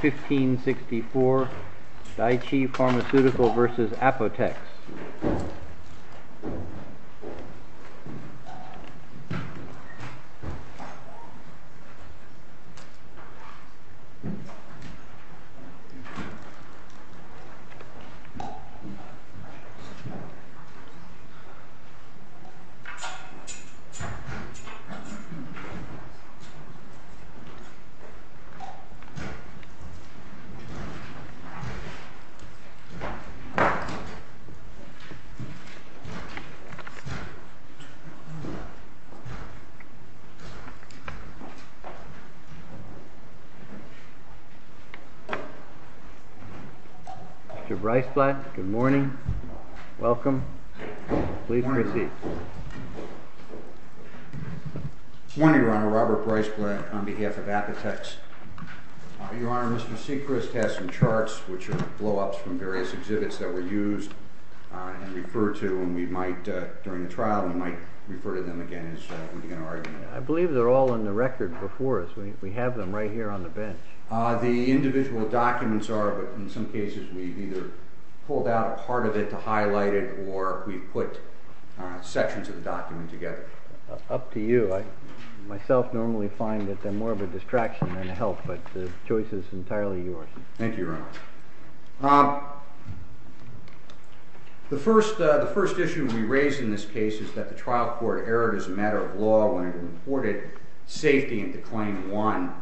1564 Daiichi Pharmaceutical v. Apotex Mr. Breisblatt, good morning. Welcome. Please proceed. Good morning, Your Honor. Robert Breisblatt on behalf of Apotex. Your Honor, Mr. Seacrest has some charts, which are blow-ups from various exhibits that were used and referred to, and we might, during the trial, we might refer to them again as we begin our argument. I believe they're all on the record before us. We have them right here on the bench. The individual documents are, but in some cases we've either pulled out a part of it to highlight it, or we've put sections of the document together. Mr. Seacrest, up to you. I myself normally find that they're more of a distraction than a help, but the choice is entirely yours. Thank you, Your Honor. The first issue we raised in this case is that the trial court erred as a matter of law when it reported safety into Claim 1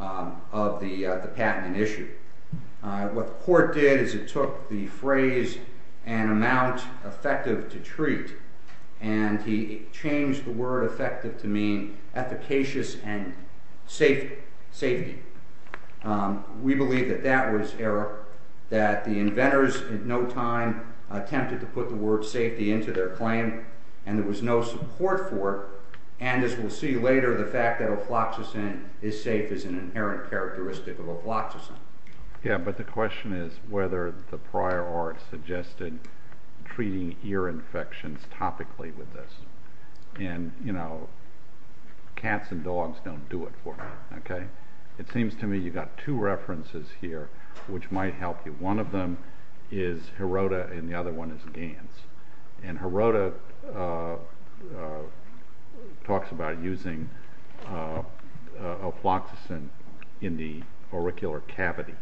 of the patent issue. What the court did is it took the phrase, an amount effective to treat, and he changed the word effective to mean efficacious and safety. We believe that that was error, that the inventors at no time attempted to put the word safety into their claim, and there was no support for it. And, as we'll see later, the fact that Afloxacin is safe is an inherent characteristic of Afloxacin. Yeah, but the question is whether the prior art suggested treating ear infections topically with this. And, you know, cats and dogs don't do it for me, okay? It seems to me you've got two references here which might help you. One of them is Heroda, and the other one is Gans. And Heroda talks about using Afloxacin in the auricular cavity.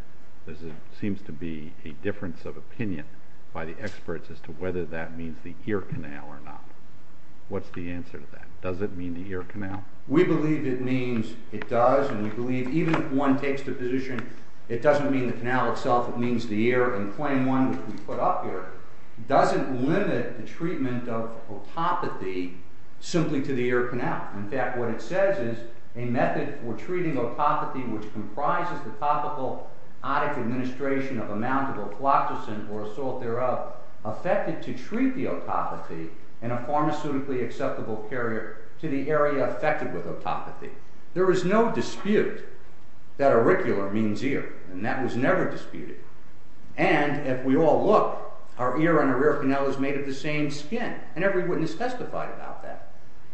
There seems to be a difference of opinion by the experts as to whether that means the ear canal or not. What's the answer to that? Does it mean the ear canal? We believe it means it does, and we believe even if one takes the position it doesn't mean the canal itself, it means the ear, and claim one, which we put up here, doesn't limit the treatment of otopathy simply to the ear canal. In fact, what it says is a method for treating otopathy which comprises the topical otic administration of a mountable Afloxacin or a salt thereof, affected to treat the otopathy in a pharmaceutically acceptable carrier to the area affected with otopathy. There is no dispute that auricular means ear, and that was never disputed. And, if we all look, our ear and our ear canal is made of the same skin, and every witness testified about that.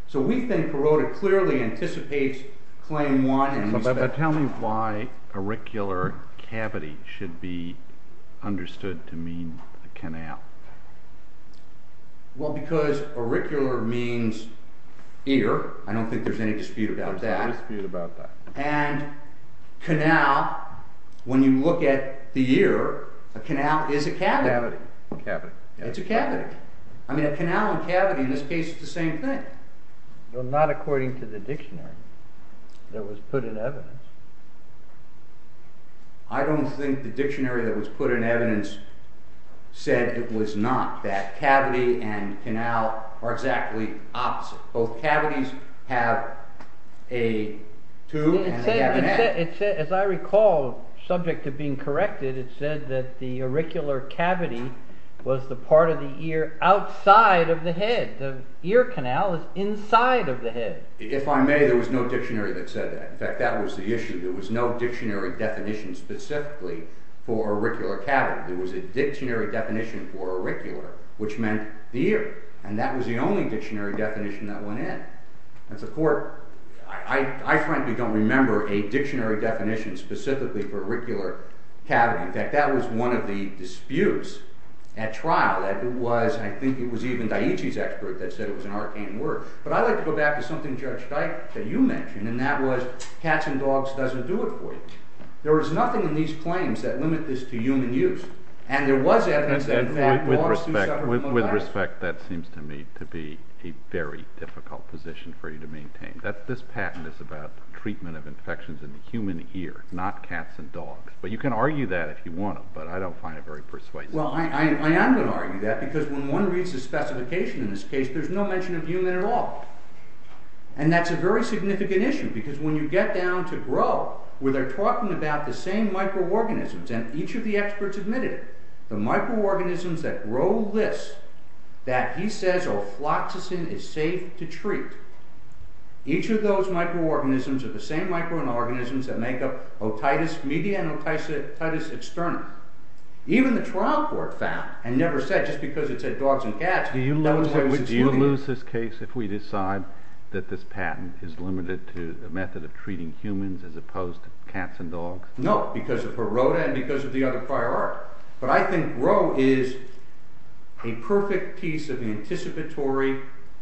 So we think Heroda clearly anticipates claim one. Tell me why auricular cavity should be understood to mean the canal. Well, because auricular means ear. I don't think there's any dispute about that. There's no dispute about that. And canal, when you look at the ear, a canal is a cavity. It's a cavity. It's a cavity. I mean a canal and cavity in this case is the same thing. Well, not according to the dictionary that was put in evidence. I don't think the dictionary that was put in evidence said it was not, that cavity and canal are exactly opposite. Both cavities have a tube and a cavity. As I recall, subject to being corrected, it said that the auricular cavity was the part of the ear outside of the head. And the ear canal is inside of the head. If I may, there was no dictionary that said that. In fact, that was the issue. There was no dictionary definition specifically for auricular cavity. There was a dictionary definition for auricular, which meant the ear. And that was the only dictionary definition that went in. I frankly don't remember a dictionary definition specifically for auricular cavity. In fact, that was one of the disputes at trial. I think it was even Dietschy's expert that said it was an arcane word. But I'd like to go back to something, Judge Dike, that you mentioned. And that was cats and dogs doesn't do it for you. There was nothing in these claims that limit this to human use. And there was evidence that in fact dogs do suffer from malaria. With respect, that seems to me to be a very difficult position for you to maintain. This patent is about treatment of infections in the human ear, not cats and dogs. But you can argue that if you want to, but I don't find it very persuasive. Well, I am going to argue that, because when one reads the specification in this case, there's no mention of human at all. And that's a very significant issue, because when you get down to grow, where they're talking about the same microorganisms, and each of the experts admitted it, the microorganisms that grow this, that he says ofloxacin is safe to treat, each of those microorganisms are the same microorganisms that make up otitis media and otitis externa. Even the trial court found, and never said, just because it said dogs and cats. Do you lose this case if we decide that this patent is limited to a method of treating humans as opposed to cats and dogs? No, because of Heroda and because of the other prior art. But I think grow is a perfect piece of the anticipatory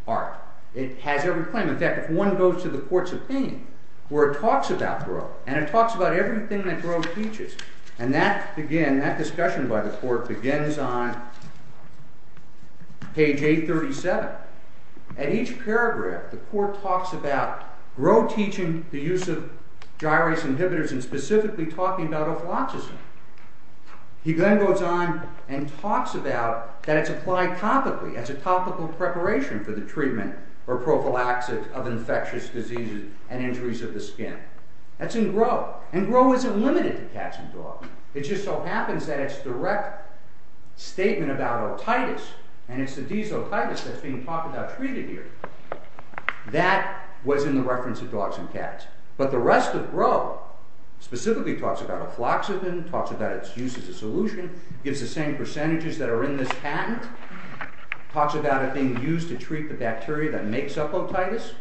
art. It has every claim. In fact, if one goes to the court's opinion, where it talks about grow, and it talks about everything that grow teaches, and that, again, that discussion by the court begins on page 837. At each paragraph, the court talks about grow teaching the use of gyrase inhibitors and specifically talking about ofloxacin. He then goes on and talks about that it's applied topically, as a topical preparation for the treatment or prophylaxis of infectious diseases and injuries of the skin. That's in grow. And grow isn't limited to cats and dogs. It just so happens that its direct statement about otitis, and it's the desotitis that's being talked about treated here, that was in the reference of dogs and cats. But the rest of grow specifically talks about ofloxacin, talks about its use as a solution, gives the same percentages that are in this patent, talks about it being used to treat the bacteria that makes up otitis.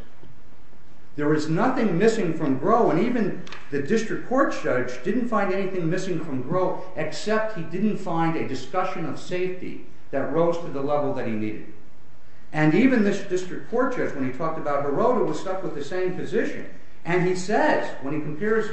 There is nothing missing from grow, and even the district court judge didn't find anything missing from grow except he didn't find a discussion of safety that rose to the level that he needed. And even this district court judge, when he talked about borota, was stuck with the same position, and he says, when he compares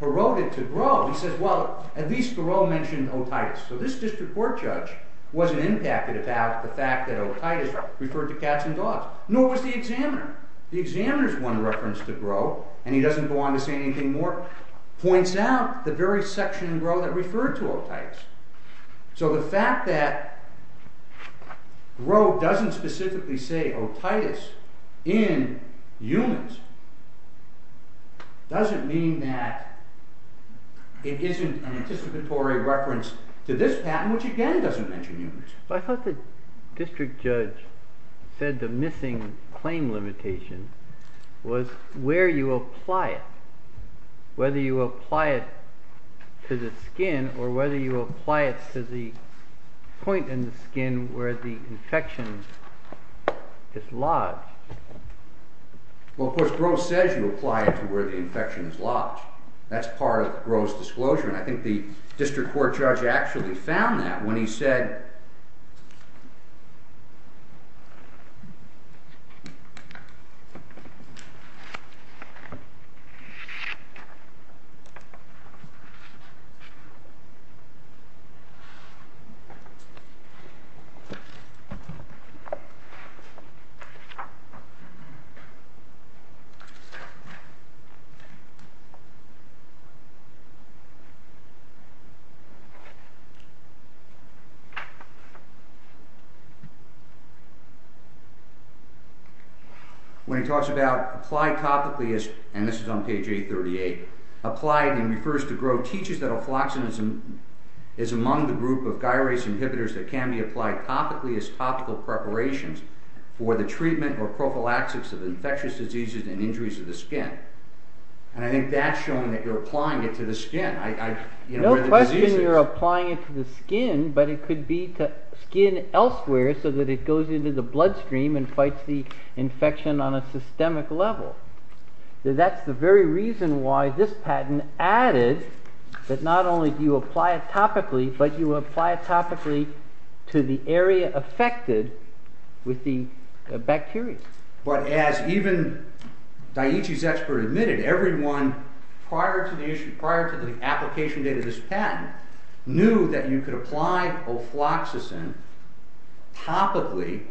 borota to grow, he says, well, at least grow mentioned otitis. So this district court judge wasn't impacted about the fact that otitis referred to cats and dogs, nor was the examiner. The examiner's one reference to grow, and he doesn't go on to say anything more, points out the very section in grow that referred to otitis. So the fact that grow doesn't specifically say otitis in humans doesn't mean that it isn't an anticipatory reference to this patent, which again doesn't mention humans. I thought the district judge said the missing claim limitation was where you apply it, whether you apply it to the skin or whether you apply it to the point in the skin where the infection is lodged. Well, of course, grow says you apply it to where the infection is lodged. That's part of grow's disclosure, and I think the district court judge actually found that when he said When he talks about apply topically, and this is on page 838, apply, and he refers to grow, teaches that afloxacin is among the group of gyrase inhibitors that can be applied topically as topical preparations for the treatment or prophylaxis of infectious diseases and injuries of the skin. And I think that's showing that you're applying it to the skin. No question you're applying it to the skin, but it could be to skin elsewhere so that it goes into the bloodstream and fights the infection on a systemic level. That's the very reason why this patent added that not only do you apply it topically, but you apply it topically to the area affected with the bacteria. But as even Daiichi's expert admitted, everyone prior to the application date of this patent knew that you could apply afloxacin topically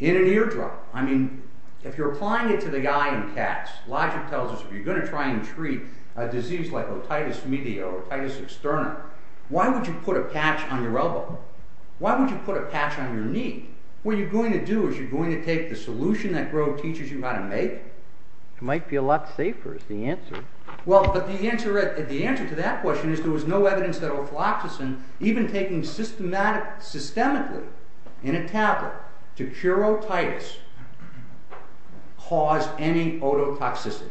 in an eardrum. I mean, if you're applying it to the eye and cats, logic tells us if you're going to try and treat a disease like otitis media or otitis externa, why would you put a patch on your elbow? Why would you put a patch on your knee? What you're going to do is you're going to take the solution that Grove teaches you how to make. It might be a lot safer is the answer. Well, but the answer to that question is there was no evidence that afloxacin, even taking systemically in a tablet to cure otitis, caused any ototoxicity.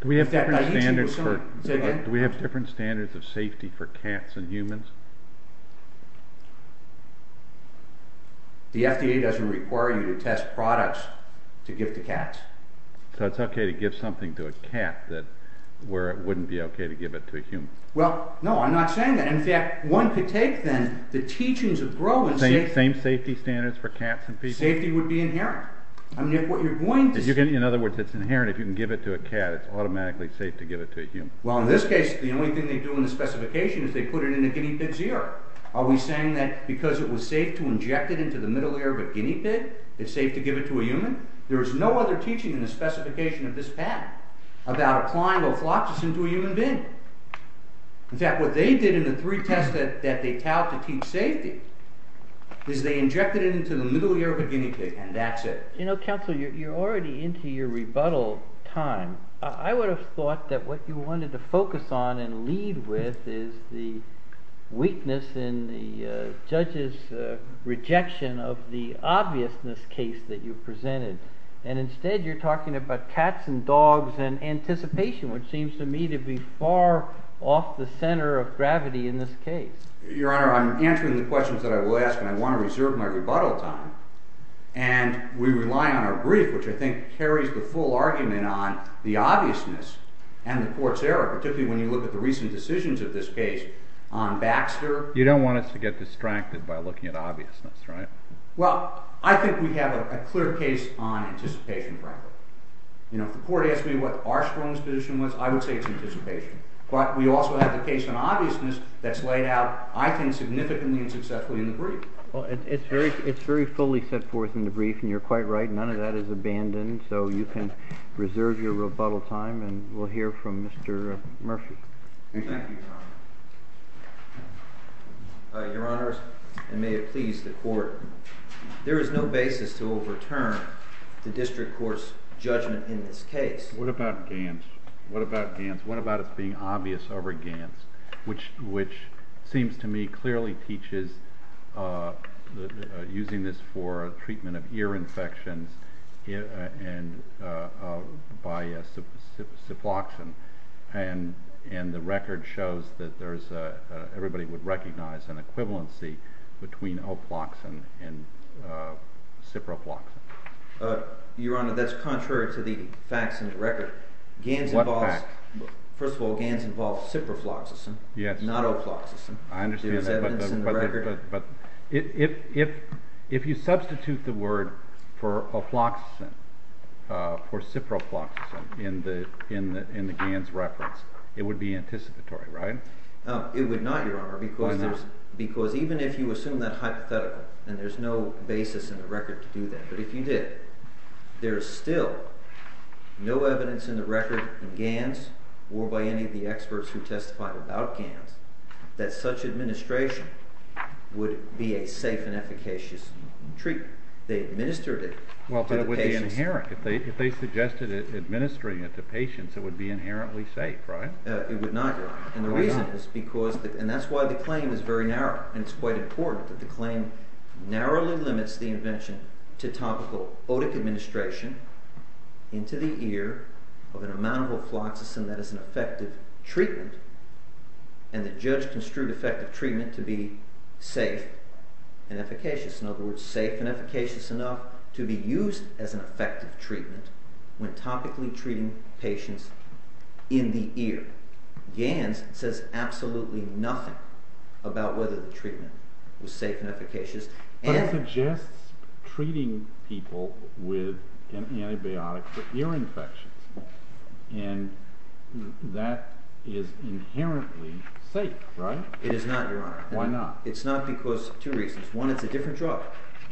Do we have different standards of safety for cats and humans? The FDA doesn't require you to test products to give to cats. So it's okay to give something to a cat where it wouldn't be okay to give it to a human? Well, no, I'm not saying that. In fact, one could take, then, the teachings of Grove. Same safety standards for cats and people? Safety would be inherent. In other words, it's inherent. If you can give it to a cat, it's automatically safe to give it to a human. Well, in this case, the only thing they do in the specification is they put it in a guinea pig's ear. Are we saying that because it was safe to inject it into the middle ear of a guinea pig, it's safe to give it to a human? There is no other teaching in the specification of this patent about applying afloxacin to a human being. In fact, what they did in the three tests that they tout to teach safety is they injected it into the middle ear of a guinea pig, and that's it. You know, counsel, you're already into your rebuttal time. I would have thought that what you wanted to focus on and lead with is the weakness in the judge's rejection of the obviousness case that you presented. And instead, you're talking about cats and dogs and anticipation, which seems to me to be far off the center of gravity in this case. Your Honor, I'm answering the questions that I will ask, and I want to reserve my rebuttal time. And we rely on our brief, which I think carries the full argument on the obviousness and the court's error, particularly when you look at the recent decisions of this case on Baxter. You don't want us to get distracted by looking at obviousness, right? Well, I think we have a clear case on anticipation, frankly. You know, if the court asked me what our strongest position was, I would say it's anticipation. But we also have the case on obviousness that's laid out, I think, significantly and successfully in the brief. Well, it's very fully set forth in the brief, and you're quite right. None of that is abandoned. So you can reserve your rebuttal time, and we'll hear from Mr. Murphy. Thank you. Thank you, Your Honor. Your Honor, and may it please the court, there is no basis to overturn the district court's judgment in this case. What about Gantz? What about Gantz? which seems to me clearly teaches using this for treatment of ear infections by ciprofloxacin, and the record shows that everybody would recognize an equivalency between oploxacin and ciprofloxacin. Your Honor, that's contrary to the facts in the record. What facts? First of all, Gantz involves ciprofloxacin, not oploxacin. I understand that, but if you substitute the word for ciprofloxacin in the Gantz reference, it would be anticipatory, right? It would not, Your Honor, because even if you assume that hypothetical, and there's no basis in the record to do that, but if you did, there is still no evidence in the record in Gantz or by any of the experts who testified about Gantz that such administration would be a safe and efficacious treatment. They administered it to the patients. Well, but it would be inherent. If they suggested administering it to patients, it would be inherently safe, right? It would not, Your Honor. Why not? And the reason is because, and that's why the claim is very narrow, and it's quite important that the claim narrowly limits the invention to topical otic administration into the ear of an amount of oploxacin that is an effective treatment, and the judge construed effective treatment to be safe and efficacious. In other words, safe and efficacious enough to be used as an effective treatment when topically treating patients in the ear. Gantz says absolutely nothing about whether the treatment was safe and efficacious. But it suggests treating people with an antibiotic for ear infections, and that is inherently safe, right? It is not, Your Honor. Why not? It's not because of two reasons. One, it's a different drug,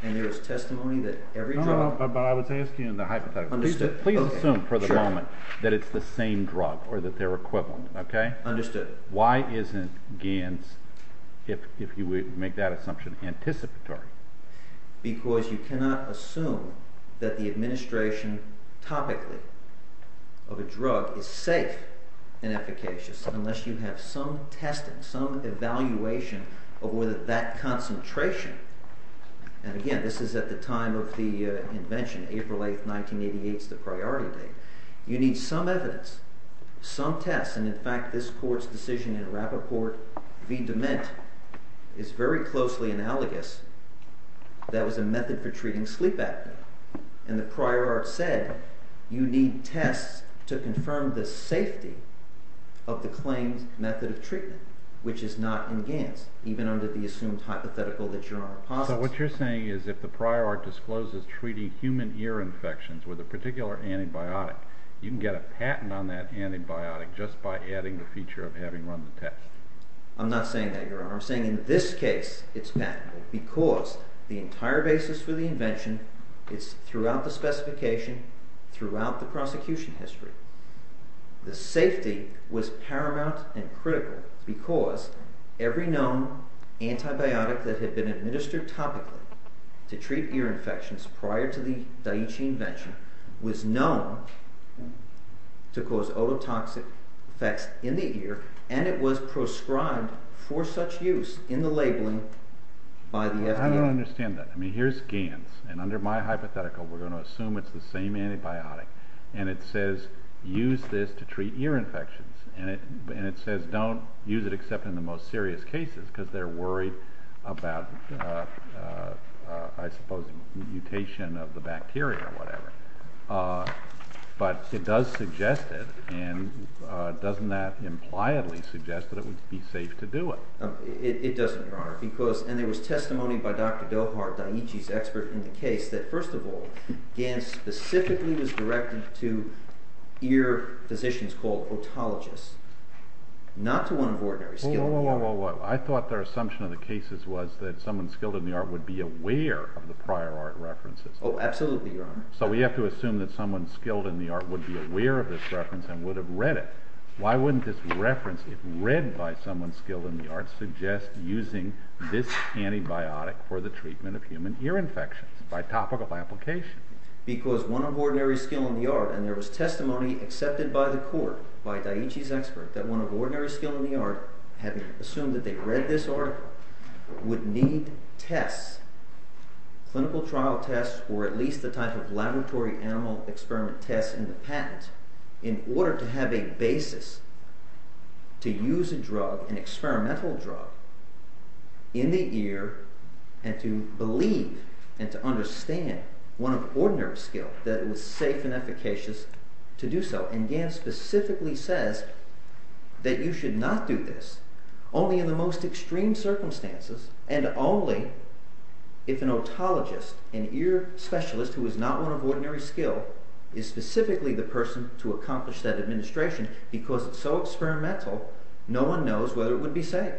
and there is testimony that every drug… No, but I was asking in the hypothetical. Understood. Please assume for the moment that it's the same drug, or that they're equivalent, okay? Understood. Why isn't Gantz, if you would make that assumption, anticipatory? Because you cannot assume that the administration topically of a drug is safe and efficacious unless you have some testing, some evaluation of whether that concentration, and again, this is at the time of the invention, April 8, 1988 is the priority date. You need some evidence, some tests, and in fact, this Court's decision in Rappaport v. DeMint is very closely analogous. That was a method for treating sleep apnea, and the prior art said you need tests to confirm the safety of the claimed method of treatment, which is not in Gantz, even under the assumed hypothetical that Your Honor posits. So what you're saying is if the prior art discloses treating human ear infections with a particular antibiotic, you can get a patent on that antibiotic just by adding the feature of having run the test. I'm not saying that, Your Honor. I'm saying in this case it's patentable because the entire basis for the invention is throughout the specification, throughout the prosecution history. The safety was paramount and critical because every known antibiotic that had been administered topically to treat ear infections prior to the Da'ichi invention was known to cause ototoxic effects in the ear, and it was prescribed for such use in the labeling by the FDA. I don't understand that. I mean, here's Gantz, and under my hypothetical we're going to assume it's the same antibiotic, and it says use this to treat ear infections, and it says don't use it except in the most serious cases because they're worried about, I suppose, mutation of the bacteria or whatever. But it does suggest it, and doesn't that impliedly suggest that it would be safe to do it? It doesn't, Your Honor. And there was testimony by Dr. Dilhart, Da'ichi's expert, in the case that, first of all, Gantz specifically was directed to ear physicians called otologists, not to one of ordinary skilled in the art. Whoa, whoa, whoa. I thought their assumption of the cases was that someone skilled in the art would be aware of the prior art references. Oh, absolutely, Your Honor. So we have to assume that someone skilled in the art would be aware of this reference and would have read it. Why wouldn't this reference, if read by someone skilled in the art, suggest using this antibiotic for the treatment of human ear infections by topical application? Because one of ordinary skilled in the art, and there was testimony accepted by the court, by Da'ichi's expert, that one of ordinary skilled in the art, having assumed that they read this art, would need tests, clinical trial tests, or at least the type of laboratory animal experiment tests in the patent, in order to have a basis to use a drug, an experimental drug, in the ear, and to believe and to understand one of ordinary skilled, that it was safe and efficacious to do so. And Gantz specifically says that you should not do this, only in the most extreme circumstances, and only if an otologist, an ear specialist, who is not one of ordinary skilled, is specifically the person to accomplish that administration, because it's so experimental, no one knows whether it would be safe.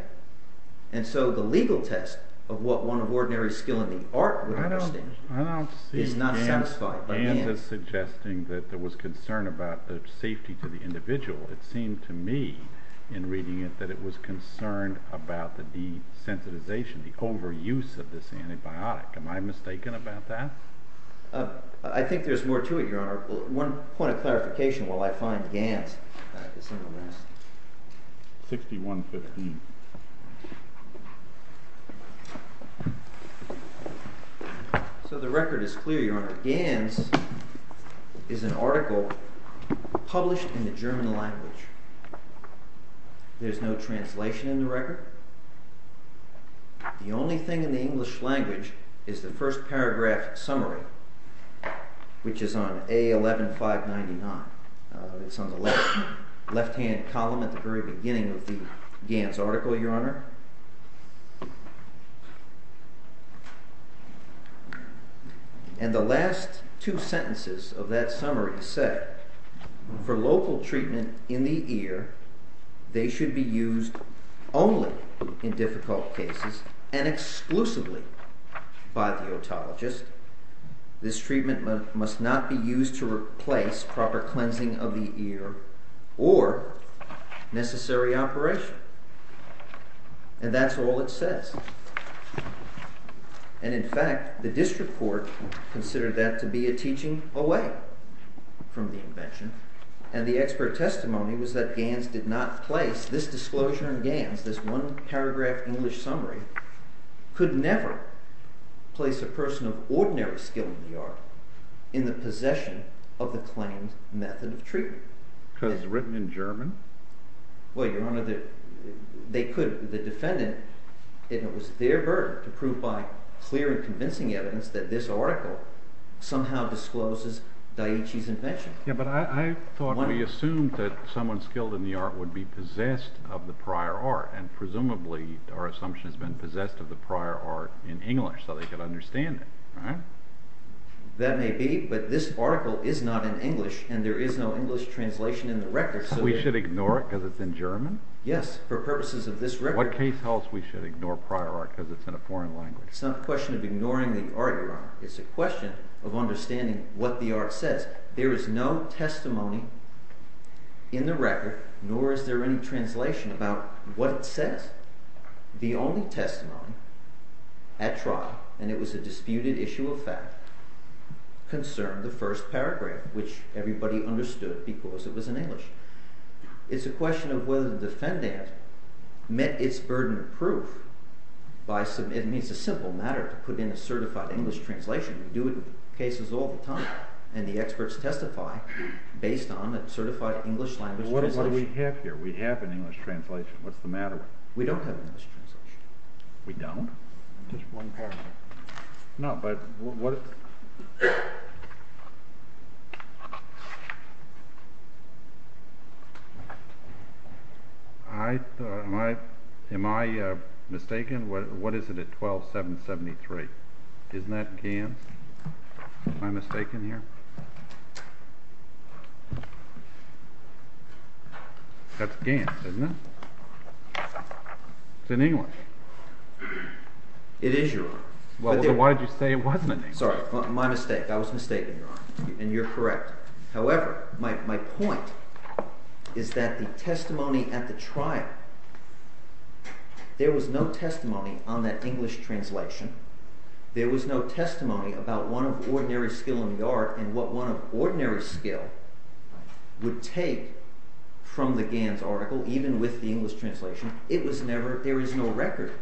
And so the legal test of what one of ordinary skilled in the art would understand is not satisfied. I don't see Gantz as suggesting that there was concern about the safety to the individual. It seemed to me, in reading it, that it was concerned about the desensitization, the overuse of this antibiotic. Am I mistaken about that? I think there's more to it, Your Honor. One point of clarification while I find Gantz. 6115. So the record is clear, Your Honor. Gantz is an article published in the German language. There's no translation in the record. The only thing in the English language is the first paragraph summary, which is on A11599. It's on the left-hand column at the very beginning of the Gantz article, Your Honor. And the last two sentences of that summary said, for local treatment in the ear, they should be used only in difficult cases and exclusively by the otologist. This treatment must not be used to replace proper cleansing of the ear or necessary operation. And that's all it says. And in fact, the district court considered that to be a teaching away from the invention. And the expert testimony was that Gantz did not place this disclosure in Gantz, this one-paragraph English summary, could never place a person of ordinary skill in the art in the possession of the claimed method of treatment. Because it's written in German? Well, Your Honor, they could. The defendant, it was their burden to prove by clear and convincing evidence that this article somehow discloses Dietschy's invention. Yeah, but I thought we assumed that someone skilled in the art would be possessed of the prior art. And presumably, our assumption has been possessed of the prior art in English, so they could understand it, right? That may be, but this article is not in English, and there is no English translation in the record. So we should ignore it because it's in German? Yes, for purposes of this record. What case tells we should ignore prior art because it's in a foreign language? It's not a question of ignoring the art, Your Honor. It's a question of understanding what the art says. There is no testimony in the record, nor is there any translation about what it says. The only testimony at trial, and it was a disputed issue of fact, concerned the first paragraph, which everybody understood because it was in English. It's a question of whether the defendant met its burden of proof. It's a simple matter to put in a certified English translation. We do it with cases all the time, and the experts testify based on a certified English language translation. Well, what do we have here? We have an English translation. What's the matter with it? We don't have an English translation. We don't? Just one paragraph. No, but what... Am I mistaken? What is it at 12773? Isn't that Gantz? Am I mistaken here? That's Gantz, isn't it? It's in English. It is, Your Honor. Well, then why did you say it wasn't in English? Sorry, my mistake. I was mistaken, Your Honor, and you're correct. However, my point is that the testimony at the trial, there was no testimony on that English translation. There was no testimony about one of ordinary skill in the art and what one of ordinary skill would take from the Gantz article, even with the English translation. It was never—there is no record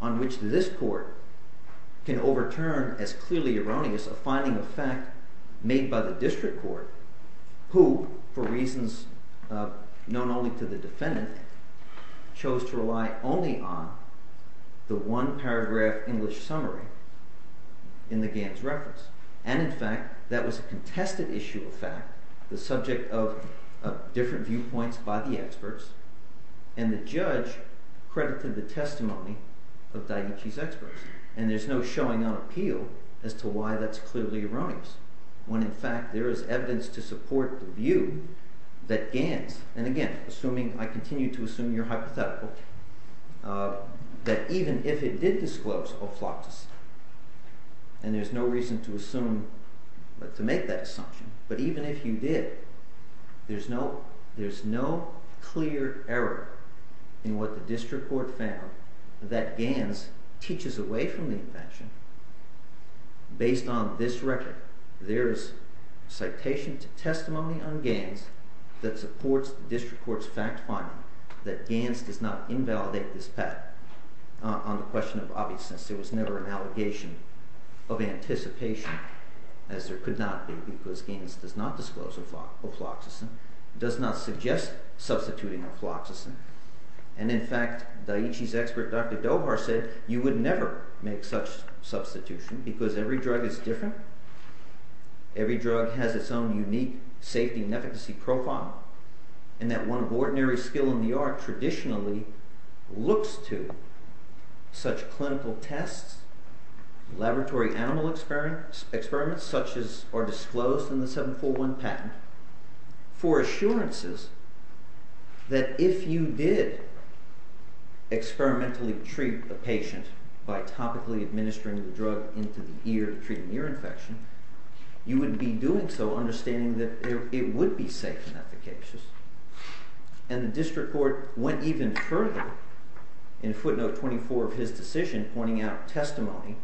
on which this court can overturn as clearly erroneous a finding of fact made by the district court, who, for reasons known only to the defendant, chose to rely only on the one-paragraph English summary in the Gantz reference. And, in fact, that was a contested issue of fact, the subject of different viewpoints by the experts, and the judge credited the testimony of Daiichi's experts. And there's no showing on appeal as to why that's clearly erroneous, when, in fact, there is evidence to support the view that Gantz— to make that assumption, but even if you did, there's no clear error in what the district court found that Gantz teaches away from the invention. Based on this record, there's citation to testimony on Gantz that supports the district court's fact-finding that Gantz does not invalidate this fact on the question of obviousness. It was never an allegation of anticipation, as there could not be, because Gantz does not disclose aphloxacin, does not suggest substituting aphloxacin. And, in fact, Daiichi's expert, Dr. Dohar, said you would never make such substitution, because every drug is different, every drug has its own unique safety and efficacy profile, and that one of ordinary skill in the art traditionally looks to such clinical tests, laboratory animal experiments, such as are disclosed in the 741 patent, for assurances that if you did experimentally treat a patient by topically administering the drug into the ear to treat an ear infection, you would be doing so understanding that it would be safe and efficacious. And the district court went even further in footnote 24 of his decision, pointing out testimony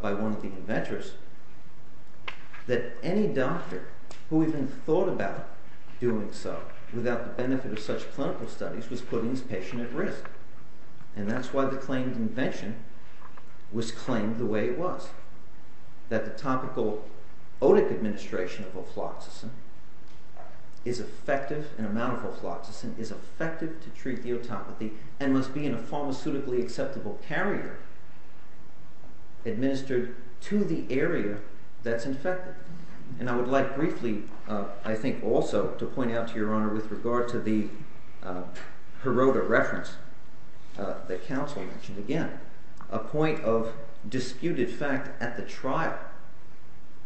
by one of the inventors, that any doctor who even thought about doing so without the benefit of such clinical studies was putting his patient at risk. And that's why the claimed invention was claimed the way it was, that the topical otic administration of aphloxacin is effective, an amount of aphloxacin, is effective to treat theotopathy and must be in a pharmaceutically acceptable carrier administered to the area that's infected. And I would like briefly, I think also, to point out to Your Honor, with regard to the Heroda reference that counsel mentioned again, a point of disputed fact at the trial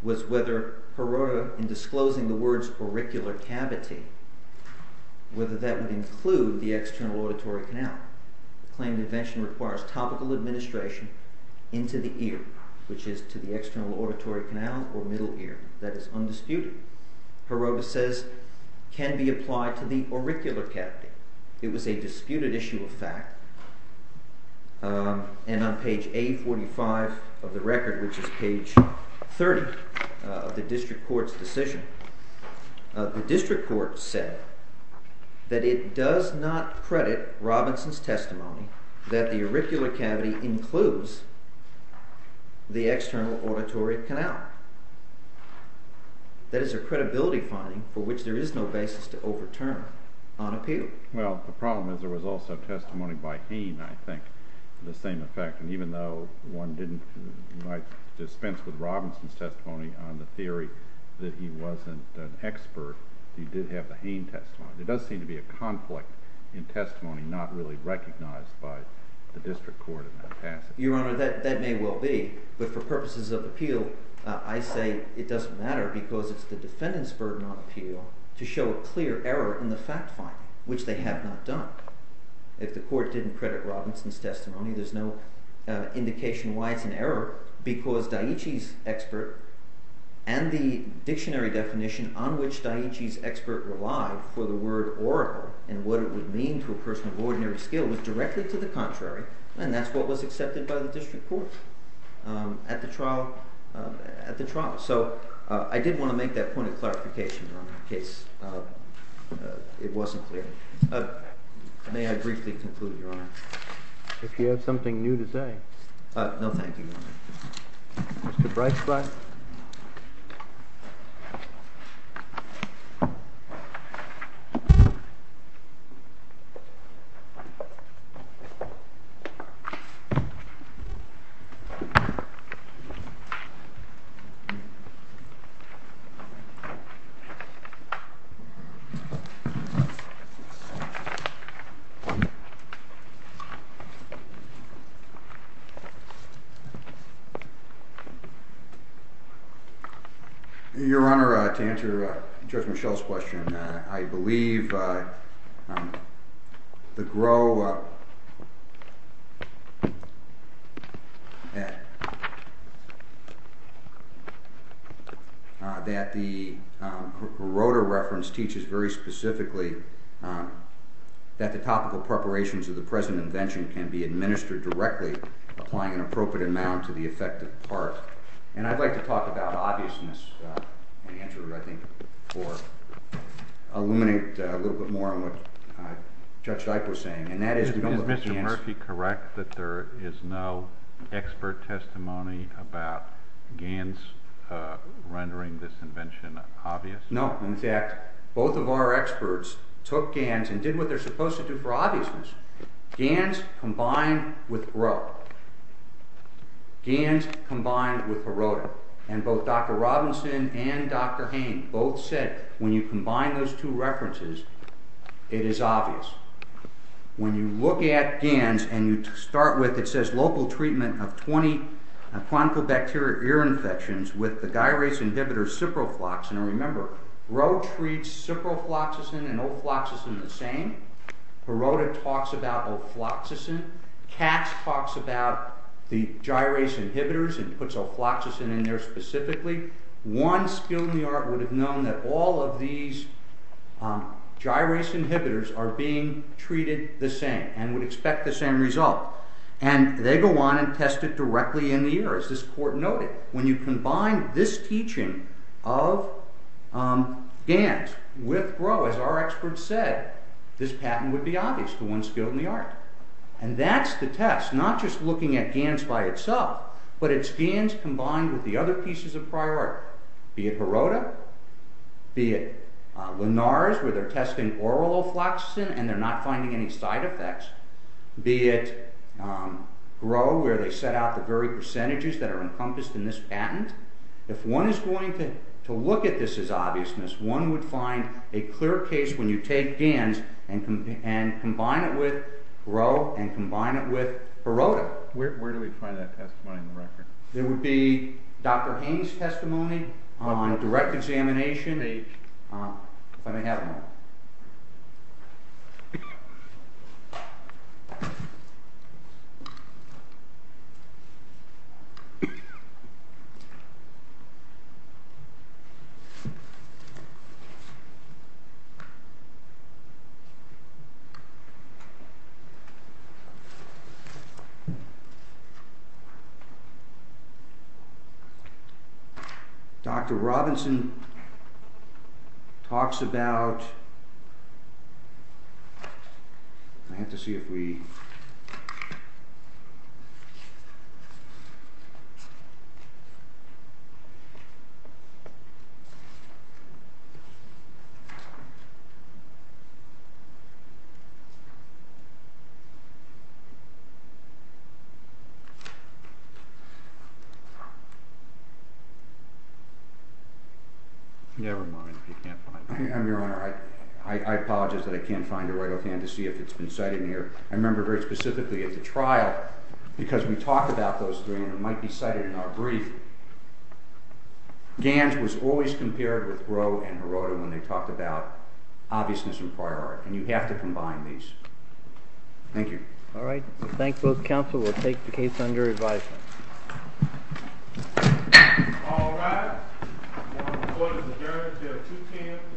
was whether Heroda, in disclosing the words auricular cavity, whether that would include the external auditory canal. The claimed invention requires topical administration into the ear, which is to the external auditory canal or middle ear. That is undisputed. Heroda says can be applied to the auricular cavity. It was a disputed issue of fact, and on page 845 of the record, which is page 30 of the district court's decision, the district court said that it does not credit Robinson's testimony that the auricular cavity includes the external auditory canal. That is a credibility finding for which there is no basis to overturn on appeal. Well, the problem is there was also testimony by Hain, I think, of the same effect. And even though one might dispense with Robinson's testimony on the theory that he wasn't an expert, he did have the Hain testimony. There does seem to be a conflict in testimony not really recognized by the district court in that passage. Your Honor, that may well be, but for purposes of appeal, I say it doesn't matter because it's the defendant's burden on appeal to show a clear error in the fact finding, which they have not done. If the court didn't credit Robinson's testimony, there's no indication why it's an error because Dietschy's expert and the dictionary definition on which Dietschy's expert relied for the word auricle and what it would mean to a person of ordinary skill was directly to the contrary. And that's what was accepted by the district court at the trial. So I did want to make that point of clarification in case it wasn't clear. May I briefly conclude, Your Honor? If you have something new to say. No, thank you, Your Honor. Mr. Breitscheid? Your Honor, to answer Judge Michelle's question. I believe the Grotter reference teaches very specifically that the topical preparations of the present invention can be administered directly, applying an appropriate amount to the effective part. And I'd like to talk about obviousness and answer, I think, or illuminate a little bit more on what Judge Dyke was saying. Is Mr. Murphy correct that there is no expert testimony about Gans rendering this invention obvious? No. In fact, both of our experts took Gans and did what they're supposed to do for obviousness. Gans combined with Grotter. Gans combined with Grotter. And both Dr. Robinson and Dr. Hayne both said when you combine those two references, it is obvious. When you look at Gans and you start with, it says local treatment of 20 chronic bacterial ear infections with the gyrase inhibitor ciprofloxacin. And remember, Grotter treats ciprofloxacin and olfloxacin the same. Grotter talks about olfloxacin. Katz talks about the gyrase inhibitors and puts olfloxacin in there specifically. One skilled in the art would have known that all of these gyrase inhibitors are being treated the same and would expect the same result. And they go on and test it directly in the ear, as this court noted. When you combine this teaching of Gans with Grotter, as our experts said, this patent would be obvious to one skilled in the art. And that's the test, not just looking at Gans by itself, but it's Gans combined with the other pieces of prior art. Be it Grotter, be it Lenard's where they're testing oral olfloxacin and they're not finding any side effects. Be it Grotter where they set out the very percentages that are encompassed in this patent. If one is going to look at this as obviousness, one would find a clear case when you take Gans and combine it with Grotter and combine it with Perrotta. Where do we find that testimony in the record? There would be Dr. Haynes' testimony on direct examination. If I may have it. Dr. Robinson talks about... Never mind if you can't find it. Your Honor, I apologize that I can't find it right offhand to see if it's been cited in here. I remember very specifically at the trial, because we talked about those three and it might be cited in our brief, Gans was always compared with Grotter and Perrotta when they talked about obviousness and prior art. And you have to combine these. Thank you. All right. I thank both counsel. We'll take the case under review. All rise. The court is adjourned until 2 p.m. this afternoon.